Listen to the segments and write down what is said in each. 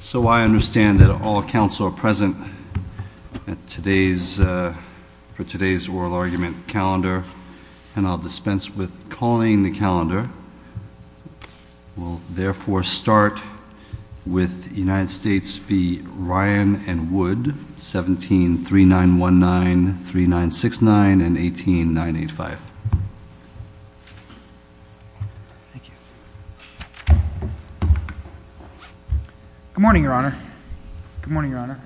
So I understand that all council are present for today's oral argument calendar. And I'll dispense with calling the calendar. We'll therefore start with United States v. Ryan and Wood, 173919, 3969, and 18985. Thank you. Good morning, Your Honor. Good morning, Your Honor.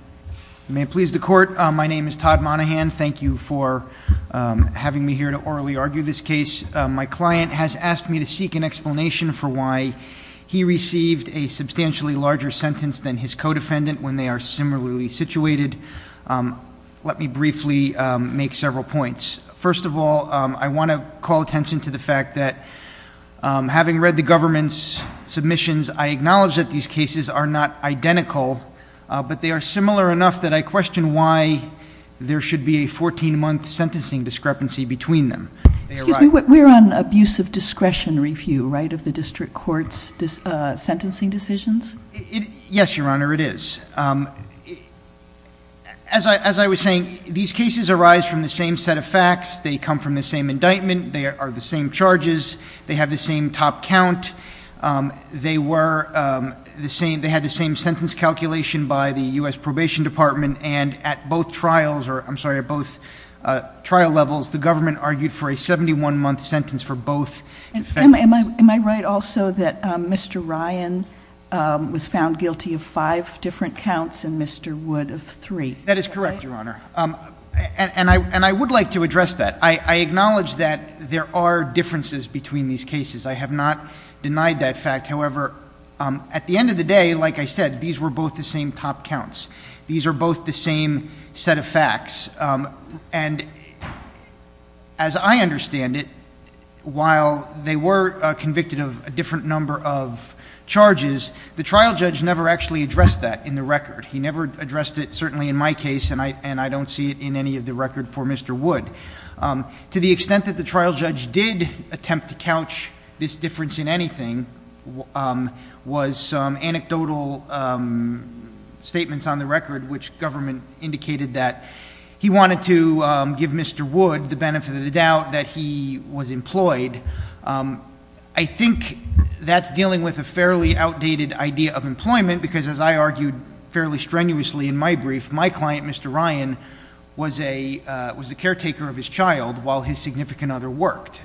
May it please the court, my name is Todd Monahan. Thank you for having me here to orally argue this case. My client has asked me to seek an explanation for why he received a substantially larger sentence than his co-defendant when they are similarly situated. Let me briefly make several points. First of all, I want to call attention to the fact that having read the government's submissions, I acknowledge that these cases are not identical, but they are similar enough that I question why there should be a 14 month sentencing discrepancy between them. They are right- Excuse me, we're on abuse of discretion review, right, of the district court's sentencing decisions? Yes, Your Honor, it is. As I was saying, these cases arise from the same set of facts. They come from the same indictment. They are the same charges. They have the same top count. They were the same, they had the same sentence calculation by the US Probation Department. And at both trials, or I'm sorry, at both trial levels, the government argued for a 71 month sentence for both. Am I right also that Mr. Ryan was found guilty of five different counts and Mr. Wood of three? That is correct, Your Honor, and I would like to address that. I acknowledge that there are differences between these cases. I have not denied that fact. However, at the end of the day, like I said, these were both the same top counts. These are both the same set of facts. And as I understand it, while they were convicted of a different number of charges. The trial judge never actually addressed that in the record. He never addressed it, certainly in my case, and I don't see it in any of the record for Mr. Wood. To the extent that the trial judge did attempt to couch this difference in anything, was some anecdotal statements on the record, which government indicated that he wanted to give Mr. Wood the benefit of the doubt that he was employed. I think that's dealing with a fairly outdated idea of employment, because as I argued fairly strenuously in my brief, my client, Mr. Ryan, was a caretaker of his child while his significant other worked.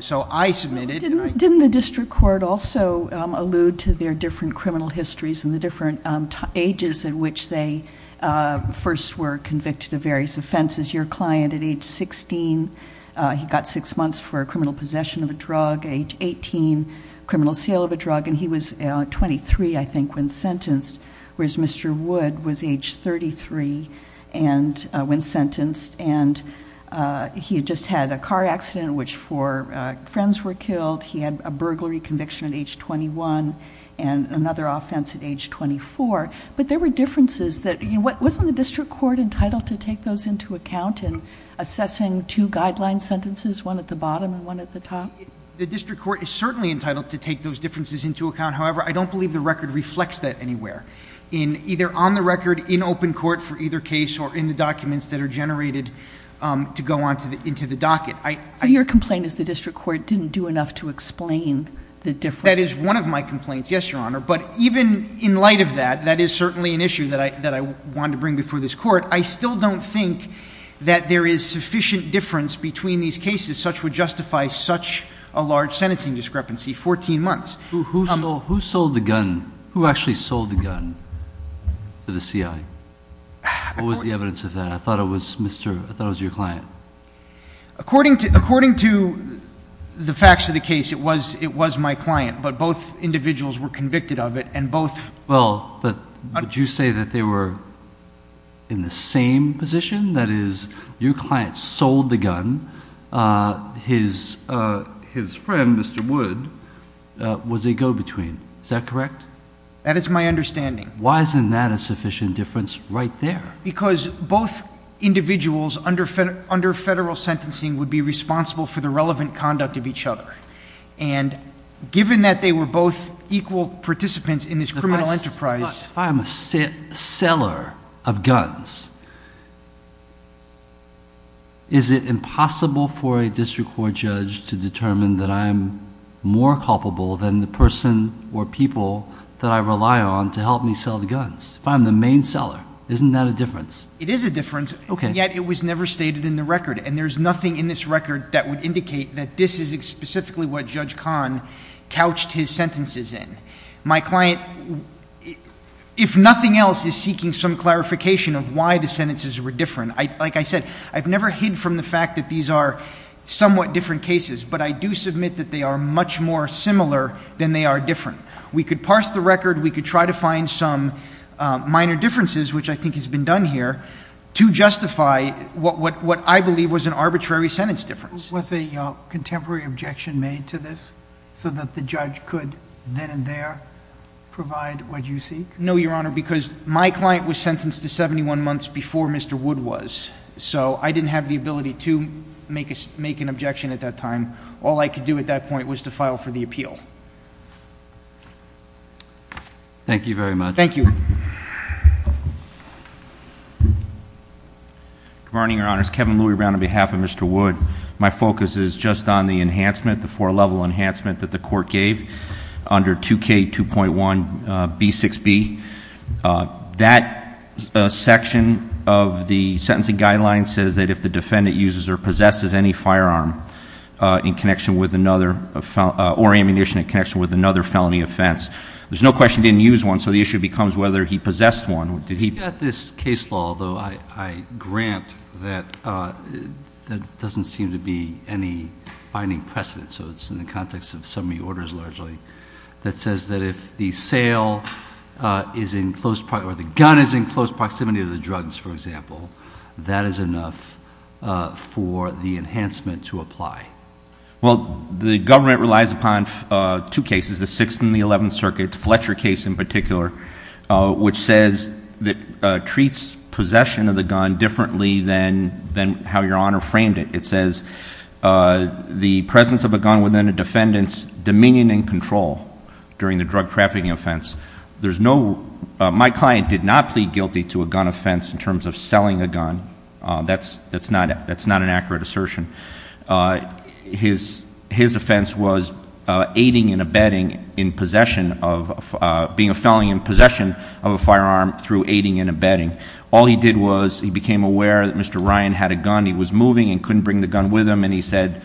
So I submitted- Didn't the district court also allude to their different criminal histories and the different ages in which they first were convicted of various offenses? Your client at age 16, he got six months for a criminal possession of a drug. Age 18, criminal sale of a drug, and he was 23, I think, when sentenced. Whereas Mr. Wood was age 33 when sentenced, and he just had a car accident in which four friends were killed. He had a burglary conviction at age 21, and another offense at age 24. But there were differences that, wasn't the district court entitled to take those into account in assessing two guideline sentences, one at the bottom and one at the top? The district court is certainly entitled to take those differences into account. However, I don't believe the record reflects that anywhere. In either on the record, in open court for either case, or in the documents that are generated to go into the docket. Your complaint is the district court didn't do enough to explain the difference. That is one of my complaints, yes, your honor. But even in light of that, that is certainly an issue that I want to bring before this court. I still don't think that there is sufficient difference between these cases. As such would justify such a large sentencing discrepancy, 14 months. Who sold the gun? Who actually sold the gun to the CI? What was the evidence of that? I thought it was your client. According to the facts of the case, it was my client. But both individuals were convicted of it, and both- Well, but did you say that they were in the same position? That is, your client sold the gun, his friend, Mr. Wood, was a go-between, is that correct? That is my understanding. Why isn't that a sufficient difference right there? Because both individuals under federal sentencing would be responsible for the relevant conduct of each other. And given that they were both equal participants in this criminal enterprise- If I'm a seller of guns, is it impossible for a district court judge to determine that I'm more culpable than the person or people that I rely on to help me sell the guns? If I'm the main seller, isn't that a difference? It is a difference, yet it was never stated in the record. And there's nothing in this record that would indicate that this is specifically what Judge Kahn couched his sentences in. My client, if nothing else, is seeking some clarification of why the sentences were different. Like I said, I've never hid from the fact that these are somewhat different cases, but I do submit that they are much more similar than they are different. We could parse the record, we could try to find some minor differences, which I think has been done here, to justify what I believe was an arbitrary sentence difference. Was a contemporary objection made to this so that the judge could then and there provide what you seek? No, Your Honor, because my client was sentenced to 71 months before Mr. Wood was. So I didn't have the ability to make an objection at that time. All I could do at that point was to file for the appeal. Thank you very much. Thank you. Good morning, Your Honors. Kevin Louie Brown on behalf of Mr. Wood. My focus is just on the enhancement, the four level enhancement that the court gave under 2K2.1B6B. That section of the sentencing guideline says that if the defendant uses or possesses any firearm in connection with another, or ammunition in connection with another felony offense. There's no question he didn't use one, so the issue becomes whether he possessed one. Did he- We've got this case law, although I grant that doesn't seem to be any binding precedent. So it's in the context of summary orders largely. That says that if the sale is in close, or the gun is in close proximity to the drugs, for example. That is enough for the enhancement to apply. Well, the government relies upon two cases, the 6th and the 11th Circuit, Fletcher case in particular, which says that treats possession of the gun differently than how Your Honor framed it. It says the presence of a gun within a defendant's dominion and control during the drug trafficking offense. There's no, my client did not plead guilty to a gun offense in terms of selling a gun. That's not an accurate assertion. His offense was aiding and abetting in possession of, being a felony in possession of a firearm through aiding and abetting. All he did was he became aware that Mr. Ryan had a gun. He was moving and couldn't bring the gun with him, and he said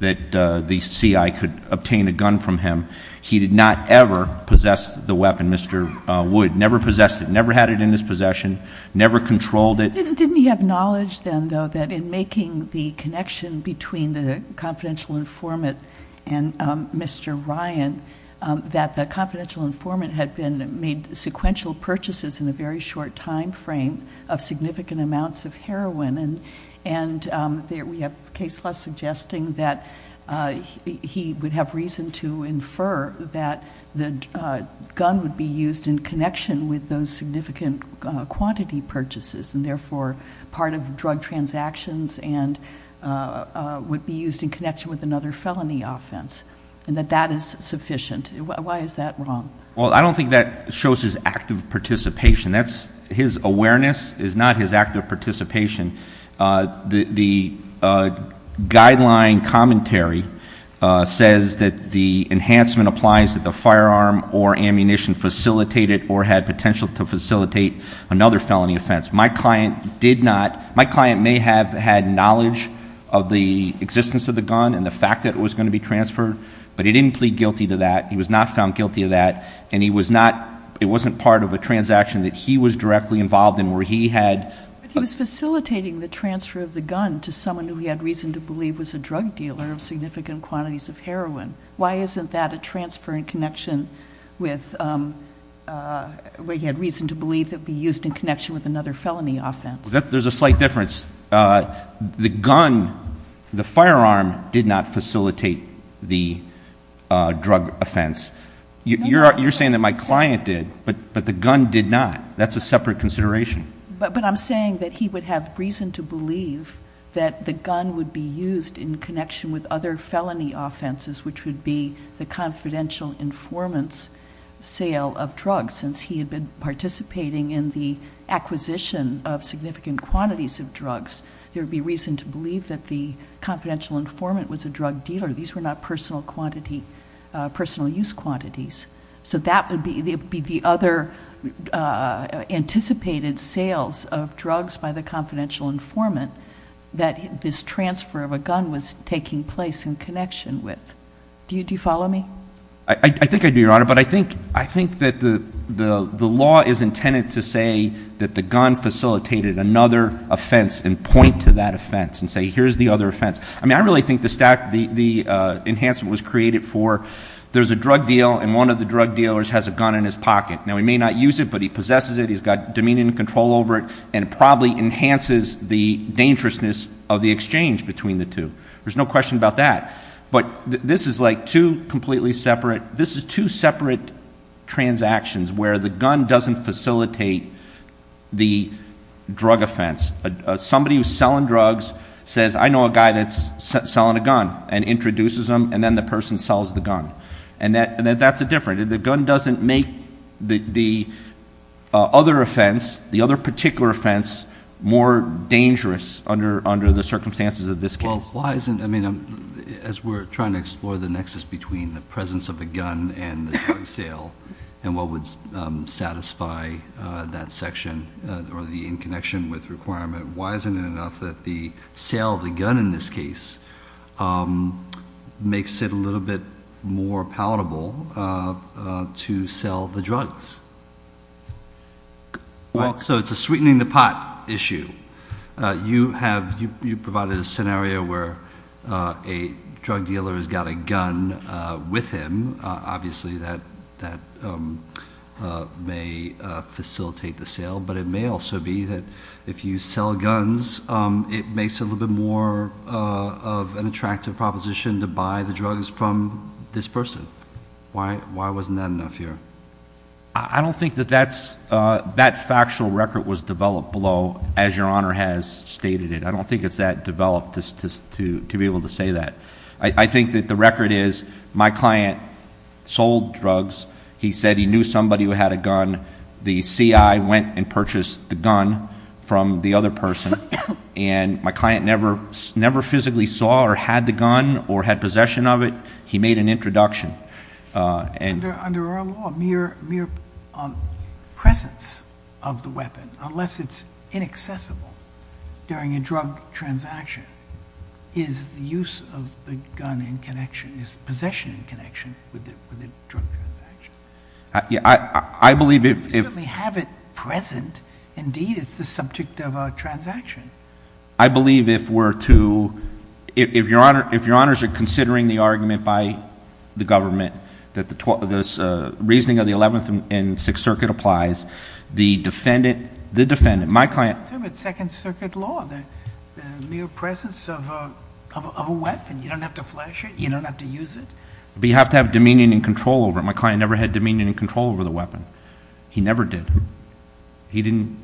that the CI could obtain a gun from him. He did not ever possess the weapon, Mr. Wood, never possessed it, never had it in his possession, never controlled it. Didn't he have knowledge then, though, that in making the connection between the confidential informant and Mr. Ryan, that the confidential informant had made sequential purchases in a very short time frame of significant amounts of heroin. And we have case law suggesting that he would have reason to infer that the gun would be used in connection with those significant quantity purchases. And therefore, part of drug transactions and would be used in connection with another felony offense. And that that is sufficient. Why is that wrong? Well, I don't think that shows his active participation. That's his awareness is not his active participation. The guideline commentary says that the enhancement applies to the firearm or ammunition facilitated or had potential to facilitate another felony offense. My client may have had knowledge of the existence of the gun and the fact that it was going to be transferred. But he didn't plead guilty to that. He was not found guilty of that. And it wasn't part of a transaction that he was directly involved in where he had- He was facilitating the transfer of the gun to someone who he had reason to believe was a drug dealer of significant quantities of heroin. Why isn't that a transfer in connection with where he had reason to believe that it would be used in connection with another felony offense? There's a slight difference. The gun, the firearm did not facilitate the drug offense. You're saying that my client did, but the gun did not. That's a separate consideration. But I'm saying that he would have reason to believe that the gun would be used in connection with other felony offenses, which would be the confidential informants sale of drugs. Since he had been participating in the acquisition of significant quantities of drugs, there would be reason to believe that the confidential informant was a drug dealer. These were not personal use quantities. So that would be the other anticipated sales of drugs by the confidential informant. That this transfer of a gun was taking place in connection with. Do you follow me? I think I do, Your Honor. But I think that the law is intended to say that the gun facilitated another offense, and point to that offense, and say here's the other offense. I mean, I really think the enhancement was created for, there's a drug deal, and one of the drug dealers has a gun in his pocket. Now, he may not use it, but he possesses it, he's got dominion and control over it. And probably enhances the dangerousness of the exchange between the two. There's no question about that. But this is like two completely separate, this is two separate transactions where the gun doesn't facilitate the drug offense. Somebody who's selling drugs says, I know a guy that's selling a gun, and introduces him, and then the person sells the gun. And that's a different, the gun doesn't make the other offense, the other particular offense, more dangerous under the circumstances of this case. Well, why isn't, I mean, as we're trying to explore the nexus between the presence of a gun and the drug sale, and what would satisfy that section or the in connection with requirement, why isn't it enough that the sale of the gun in this case makes it a little bit more palatable to sell the drugs? Well, so it's a sweetening the pot issue. You have, you provided a scenario where a drug dealer has got a gun with him. Obviously, that may facilitate the sale. But it may also be that if you sell guns, it makes it a little bit more of an attractive proposition to buy the drugs from this person. Why wasn't that enough here? I don't think that that's, that factual record was developed below, as your honor has stated it. I don't think it's that developed to be able to say that. I think that the record is, my client sold drugs. He said he knew somebody who had a gun. The CI went and purchased the gun from the other person. And my client never physically saw or had the gun or had possession of it. He made an introduction and- Under our law, mere presence of the weapon, unless it's inaccessible during a drug transaction, is the use of the gun in connection, is possession in connection with the drug transaction? Yeah, I believe if- You certainly have it present. Indeed, it's the subject of a transaction. I believe if we're to, if your honors are considering the argument by the government, that the reasoning of the 11th and 6th Circuit applies, the defendant, my client- It's second circuit law, the mere presence of a weapon. You don't have to flash it. You don't have to use it. But you have to have dominion and control over it. My client never had dominion and control over the weapon. He never did. He didn't,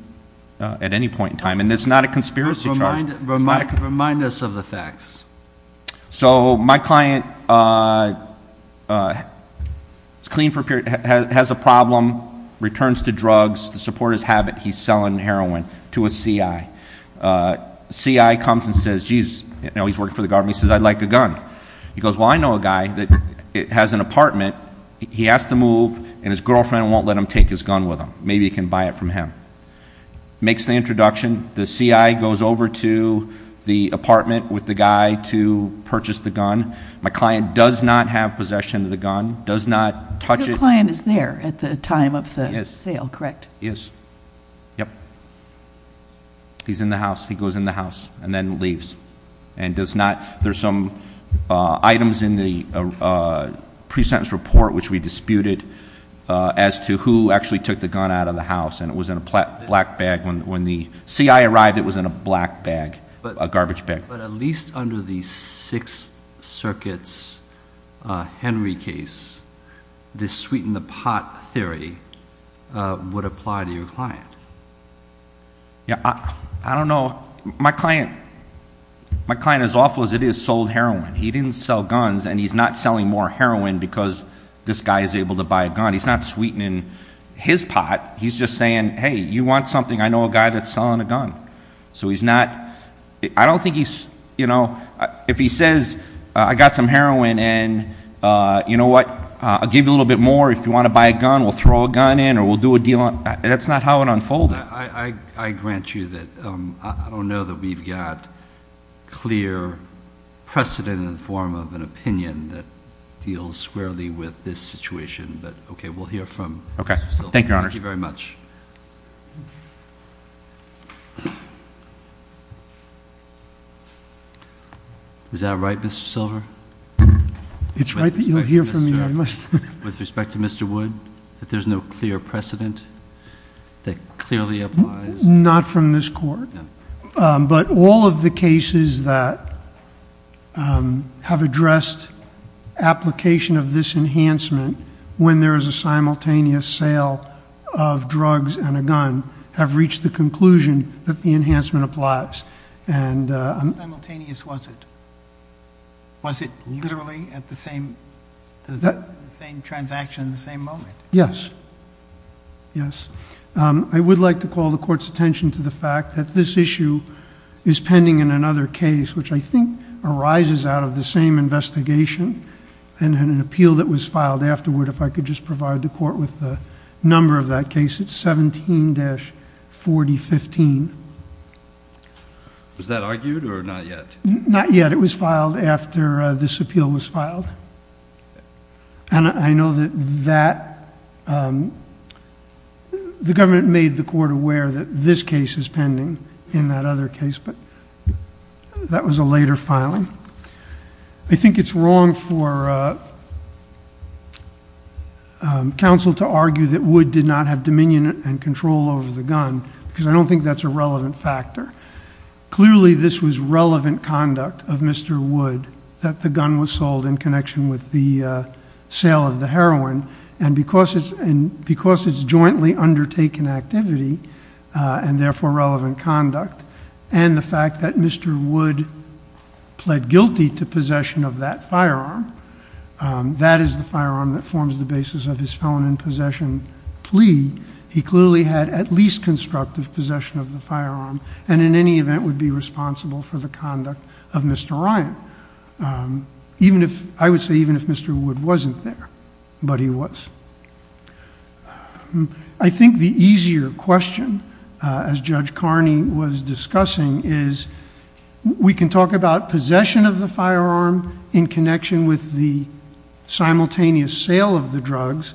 at any point in time. And it's not a conspiracy charge. Remind us of the facts. So, my client is clean for a period, has a problem, returns to drugs to support his habit, he's selling heroin to a CI. CI comes and says, geez, you know, he's working for the government, he says, I'd like a gun. He goes, well, I know a guy that has an apartment, he has to move, and his girlfriend won't let him take his gun with him. Maybe he can buy it from him. Makes the introduction, the CI goes over to the apartment with the guy to purchase the gun. My client does not have possession of the gun, does not touch it. Your client is there at the time of the sale, correct? Yes, yep. He's in the house, he goes in the house, and then leaves. And does not, there's some items in the pre-sentence report, which we disputed, as to who actually took the gun out of the house. And it was in a black bag when the CI arrived, it was in a black bag, a garbage bag. But at least under the Sixth Circuit's Henry case, this sweet in the pot theory would apply to your client. Yeah, I don't know, my client, my client, as awful as it is, sold heroin. He didn't sell guns, and he's not selling more heroin because this guy is able to buy a gun. He's not sweetening his pot. He's just saying, hey, you want something? I know a guy that's selling a gun. So he's not, I don't think he's, if he says, I got some heroin, and you know what, I'll give you a little bit more if you want to buy a gun, we'll throw a gun in, or we'll do a deal. That's not how it unfolded. I grant you that, I don't know that we've got clear precedent in the form of an opinion that deals squarely with this situation, but okay, we'll hear from- Okay, thank you, Your Honor. Thank you very much. Is that right, Mr. Silver? It's right that you'll hear from me, I must. With respect to Mr. Wood, that there's no clear precedent that clearly applies? Not from this court. But all of the cases that have addressed application of this enhancement when there is a simultaneous sale of drugs and a gun have reached the conclusion that the enhancement applies. And- How simultaneous was it? Was it literally at the same transaction, the same moment? Yes, yes. I would like to call the court's attention to the fact that this issue is pending in another case, which I think arises out of the same investigation and an appeal that was filed afterward, if I could just provide the court with the number of that case, it's 17-4015. Was that argued or not yet? Not yet, it was filed after this appeal was filed. And I know that the government made the court aware that this case is pending in that other case, but that was a later filing. I think it's wrong for counsel to argue that Wood did not have dominion and control over the gun, because I don't think that's a relevant factor. Clearly, this was relevant conduct of Mr. Wood, that the gun was sold in connection with the sale of the heroin. And because it's jointly undertaken activity, and therefore relevant conduct, and the fact that Mr. Wood pled guilty to possession of that firearm, that is the firearm that forms the basis of his felon in possession plea. He clearly had at least constructive possession of the firearm. And in any event, would be responsible for the conduct of Mr. Ryan. I would say even if Mr. Wood wasn't there, but he was. I think the easier question, as Judge Carney was discussing, is we can talk about possession of the firearm in connection with the simultaneous sale of the drugs,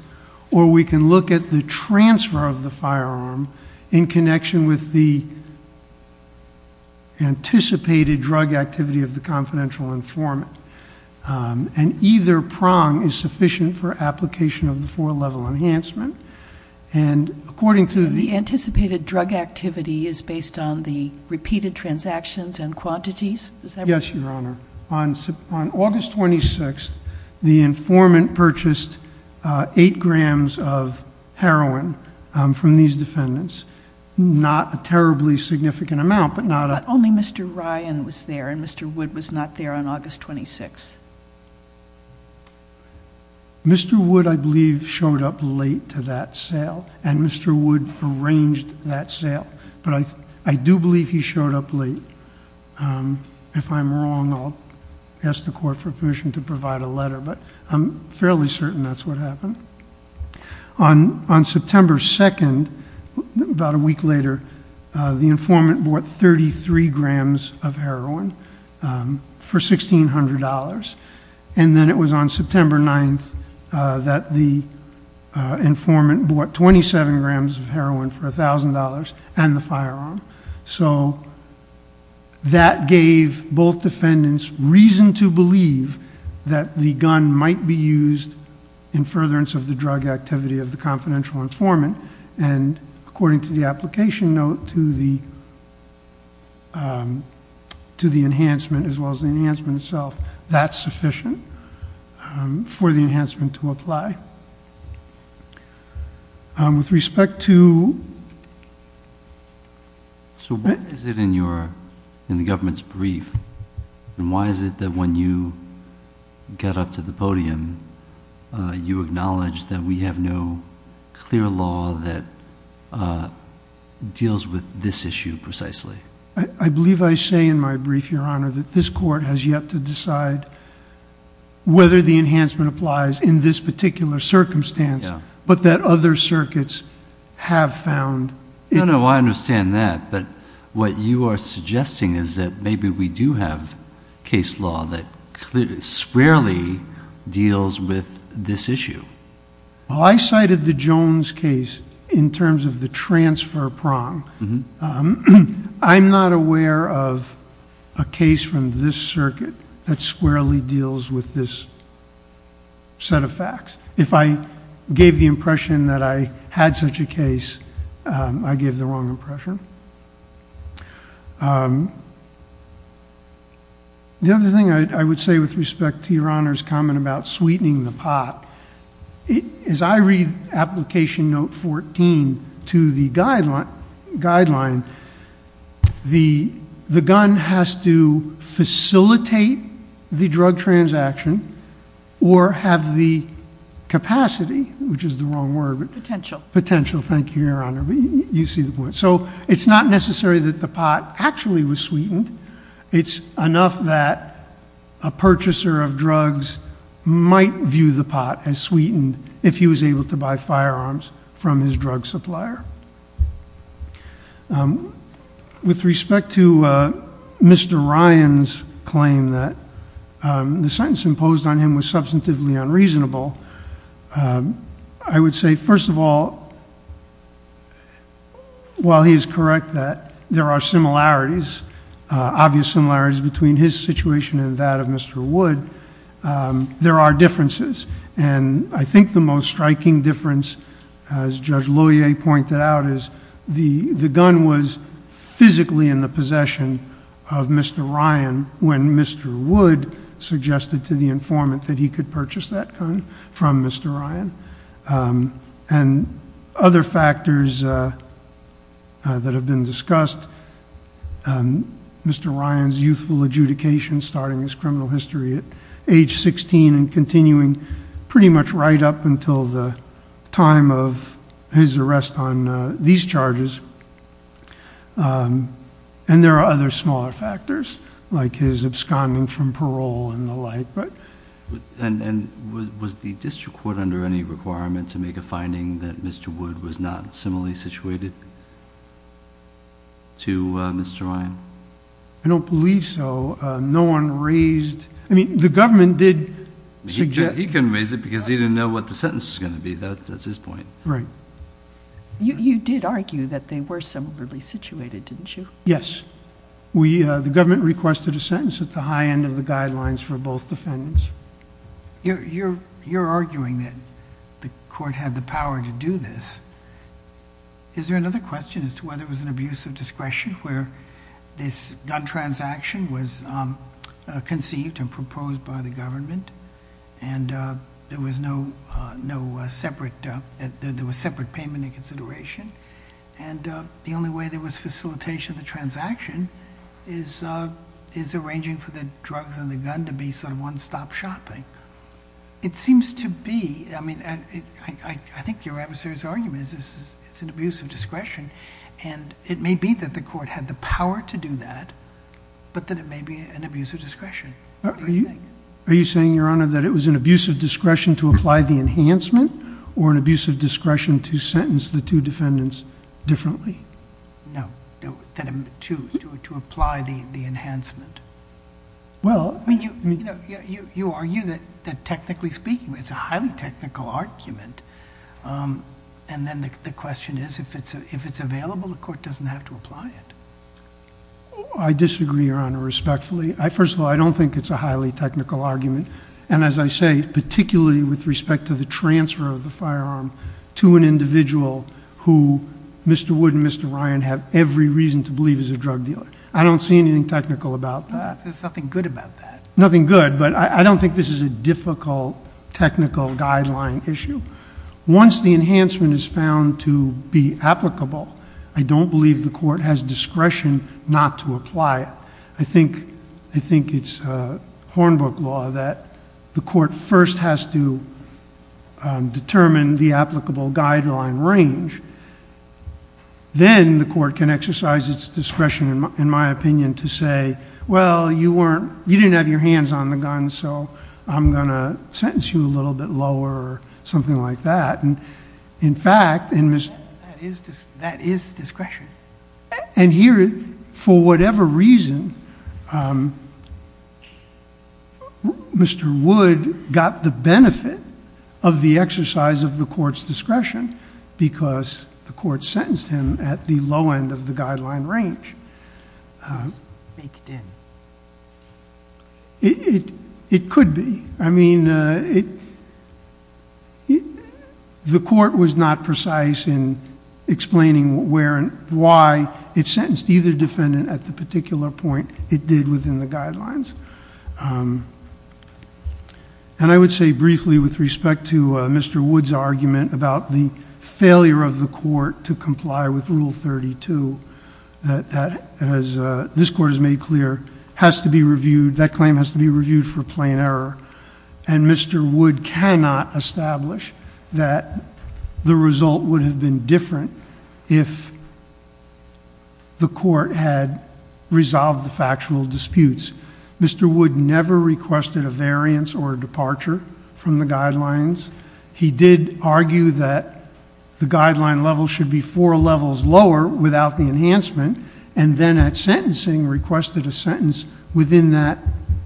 or we can look at the transfer of the firearm in connection with the anticipated drug activity of the confidential informant. And either prong is sufficient for application of the four level enhancement. And according to the- The anticipated drug activity is based on the repeated transactions and quantities? Is that right? Yes, Your Honor. I'm from these defendants, not a terribly significant amount, but not a- But only Mr. Ryan was there, and Mr. Wood was not there on August 26th. Mr. Wood, I believe, showed up late to that sale, and Mr. Wood arranged that sale. But I do believe he showed up late. If I'm wrong, I'll ask the court for permission to provide a letter, but I'm fairly certain that's what happened. On September 2nd, about a week later, the informant bought 33 grams of heroin for $1,600. And then it was on September 9th that the informant bought 27 grams of heroin for $1,000 and the firearm. So that gave both defendants reason to believe that the gun might be used in furtherance of the drug activity of the confidential informant. And according to the application note to the enhancement, as well as the enhancement itself, that's sufficient for the enhancement to apply. With respect to- So what is it in the government's brief? And why is it that when you get up to the podium, you acknowledge that we have no clear law that deals with this issue precisely? I believe I say in my brief, Your Honor, that this court has yet to decide whether the enhancement applies in this particular circumstance, but that other circuits have found- No, no, I understand that. But what you are suggesting is that maybe we do have case law that clearly squarely deals with this issue. Well, I cited the Jones case in terms of the transfer prong. I'm not aware of a case from this circuit that squarely deals with this set of facts. If I gave the impression that I had such a case, I gave the wrong impression. The other thing I would say with respect to Your Honor's comment about sweetening the pot, is I read application note 14 to the guideline, the gun has to facilitate the drug transaction, or have the capacity, which is the wrong word, but- Potential. Potential, thank you, Your Honor, but you see the point. So it's not necessary that the pot actually was sweetened. It's enough that a purchaser of drugs might view the pot as sweetened if he was able to buy firearms from his drug supplier. With respect to Mr. Ryan's claim that the sentence imposed on him was substantively unreasonable, I would say, first of all, while he is correct that there are similarities, obvious similarities between his situation and that of Mr. Wood, there are differences. And I think the most striking difference, as Judge Lohier pointed out, is the gun was physically in the possession of Mr. Ryan when Mr. Wood suggested to the informant that he could purchase that gun from Mr. Ryan. And other factors that have been discussed, Mr. Ryan's youthful adjudication starting his criminal history at age 16 and up until the time of his arrest on these charges, and there are other smaller factors, like his absconding from parole and the like, but- And was the district court under any requirement to make a finding that Mr. Wood was not similarly situated to Mr. Ryan? I don't believe so. No one raised... I mean, the government did suggest- He couldn't raise it because he didn't know what the sentence was going to be. That's his point. Right. You did argue that they were similarly situated, didn't you? Yes. We, the government requested a sentence at the high end of the guidelines for both defendants. You're arguing that the court had the power to do this. Is there another question as to whether it was an abuse of discretion where this gun transaction was conceived and proposed by the government? There was no separate... There was separate payment and consideration, and the only way there was facilitation of the transaction is arranging for the drugs and the gun to be sort of one-stop shopping. It seems to be... I mean, I think your adversary's argument is it's an abuse of discretion, and it may be that the court had the power to do that, but that it may be an abuse of discretion. What do you think? Are you saying, Your Honor, that it was an abuse of discretion to apply the enhancement, or an abuse of discretion to sentence the two defendants differently? No. No, that it... to apply the enhancement. Well... I mean, you argue that technically speaking, it's a highly technical argument, and then the question is if it's available, the court doesn't have to apply it. I disagree, Your Honor, respectfully. First of all, I don't think it's a highly technical argument, and as I say, particularly with respect to the transfer of the firearm to an individual who Mr. Wood and Mr. Ryan have every reason to believe is a drug dealer. I don't see anything technical about that. There's nothing good about that. Nothing good, but I don't think this is a difficult technical guideline issue. Once the enhancement is found to be applicable, I don't believe the court has discretion not to apply it. I think it's Hornbook law that the court first has to determine the applicable guideline range, then the court can exercise its discretion, in my opinion, to say, well, you didn't have your hands on the gun, so I'm going to sentence you a little bit lower, or something like that. In fact... That is discretion. Here, for whatever reason, Mr. Wood got the benefit of the exercise of the court's discretion, because the court sentenced him at the low end of the guideline range. It could be. I mean, the court was not precise in explaining where and why it sentenced either defendant at the particular point it did within the guidelines. I would say briefly with respect to Mr. Wood's argument about the failure of the court to comply with Rule 32, that as this court has made clear, has to be reviewed, that claim has to be reviewed for plain error. Mr. Wood cannot establish that the result would have been different if the court had resolved the factual disputes. Mr. Wood never requested a variance or a departure from the guidelines. He did argue that the guideline level should be four levels lower without the enhancement, and then at sentencing, requested a sentence within that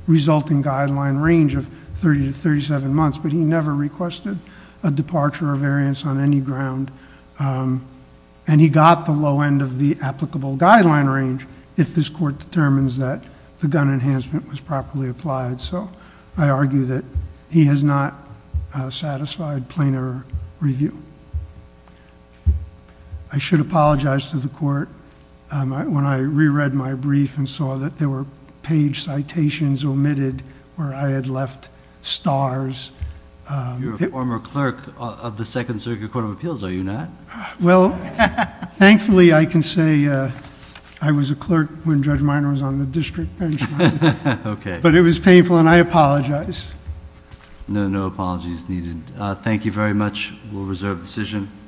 resulting guideline range of 30 to 37 months, but he never requested a departure or variance on any ground. He got the low end of the applicable guideline range if this court determines that the gun enhancement was properly applied, so I argue that he has not satisfied plain error review. I should apologize to the court when I re-read my brief and saw that there were page citations omitted where I had left stars... You're a former clerk of the Second Circuit Court of Appeals, are you not? Well, thankfully I can say I was a clerk when Judge Minor was on the district bench. Okay. It was painful and I apologize. No. No apologies needed. Thank you very much. We'll reserve the decision.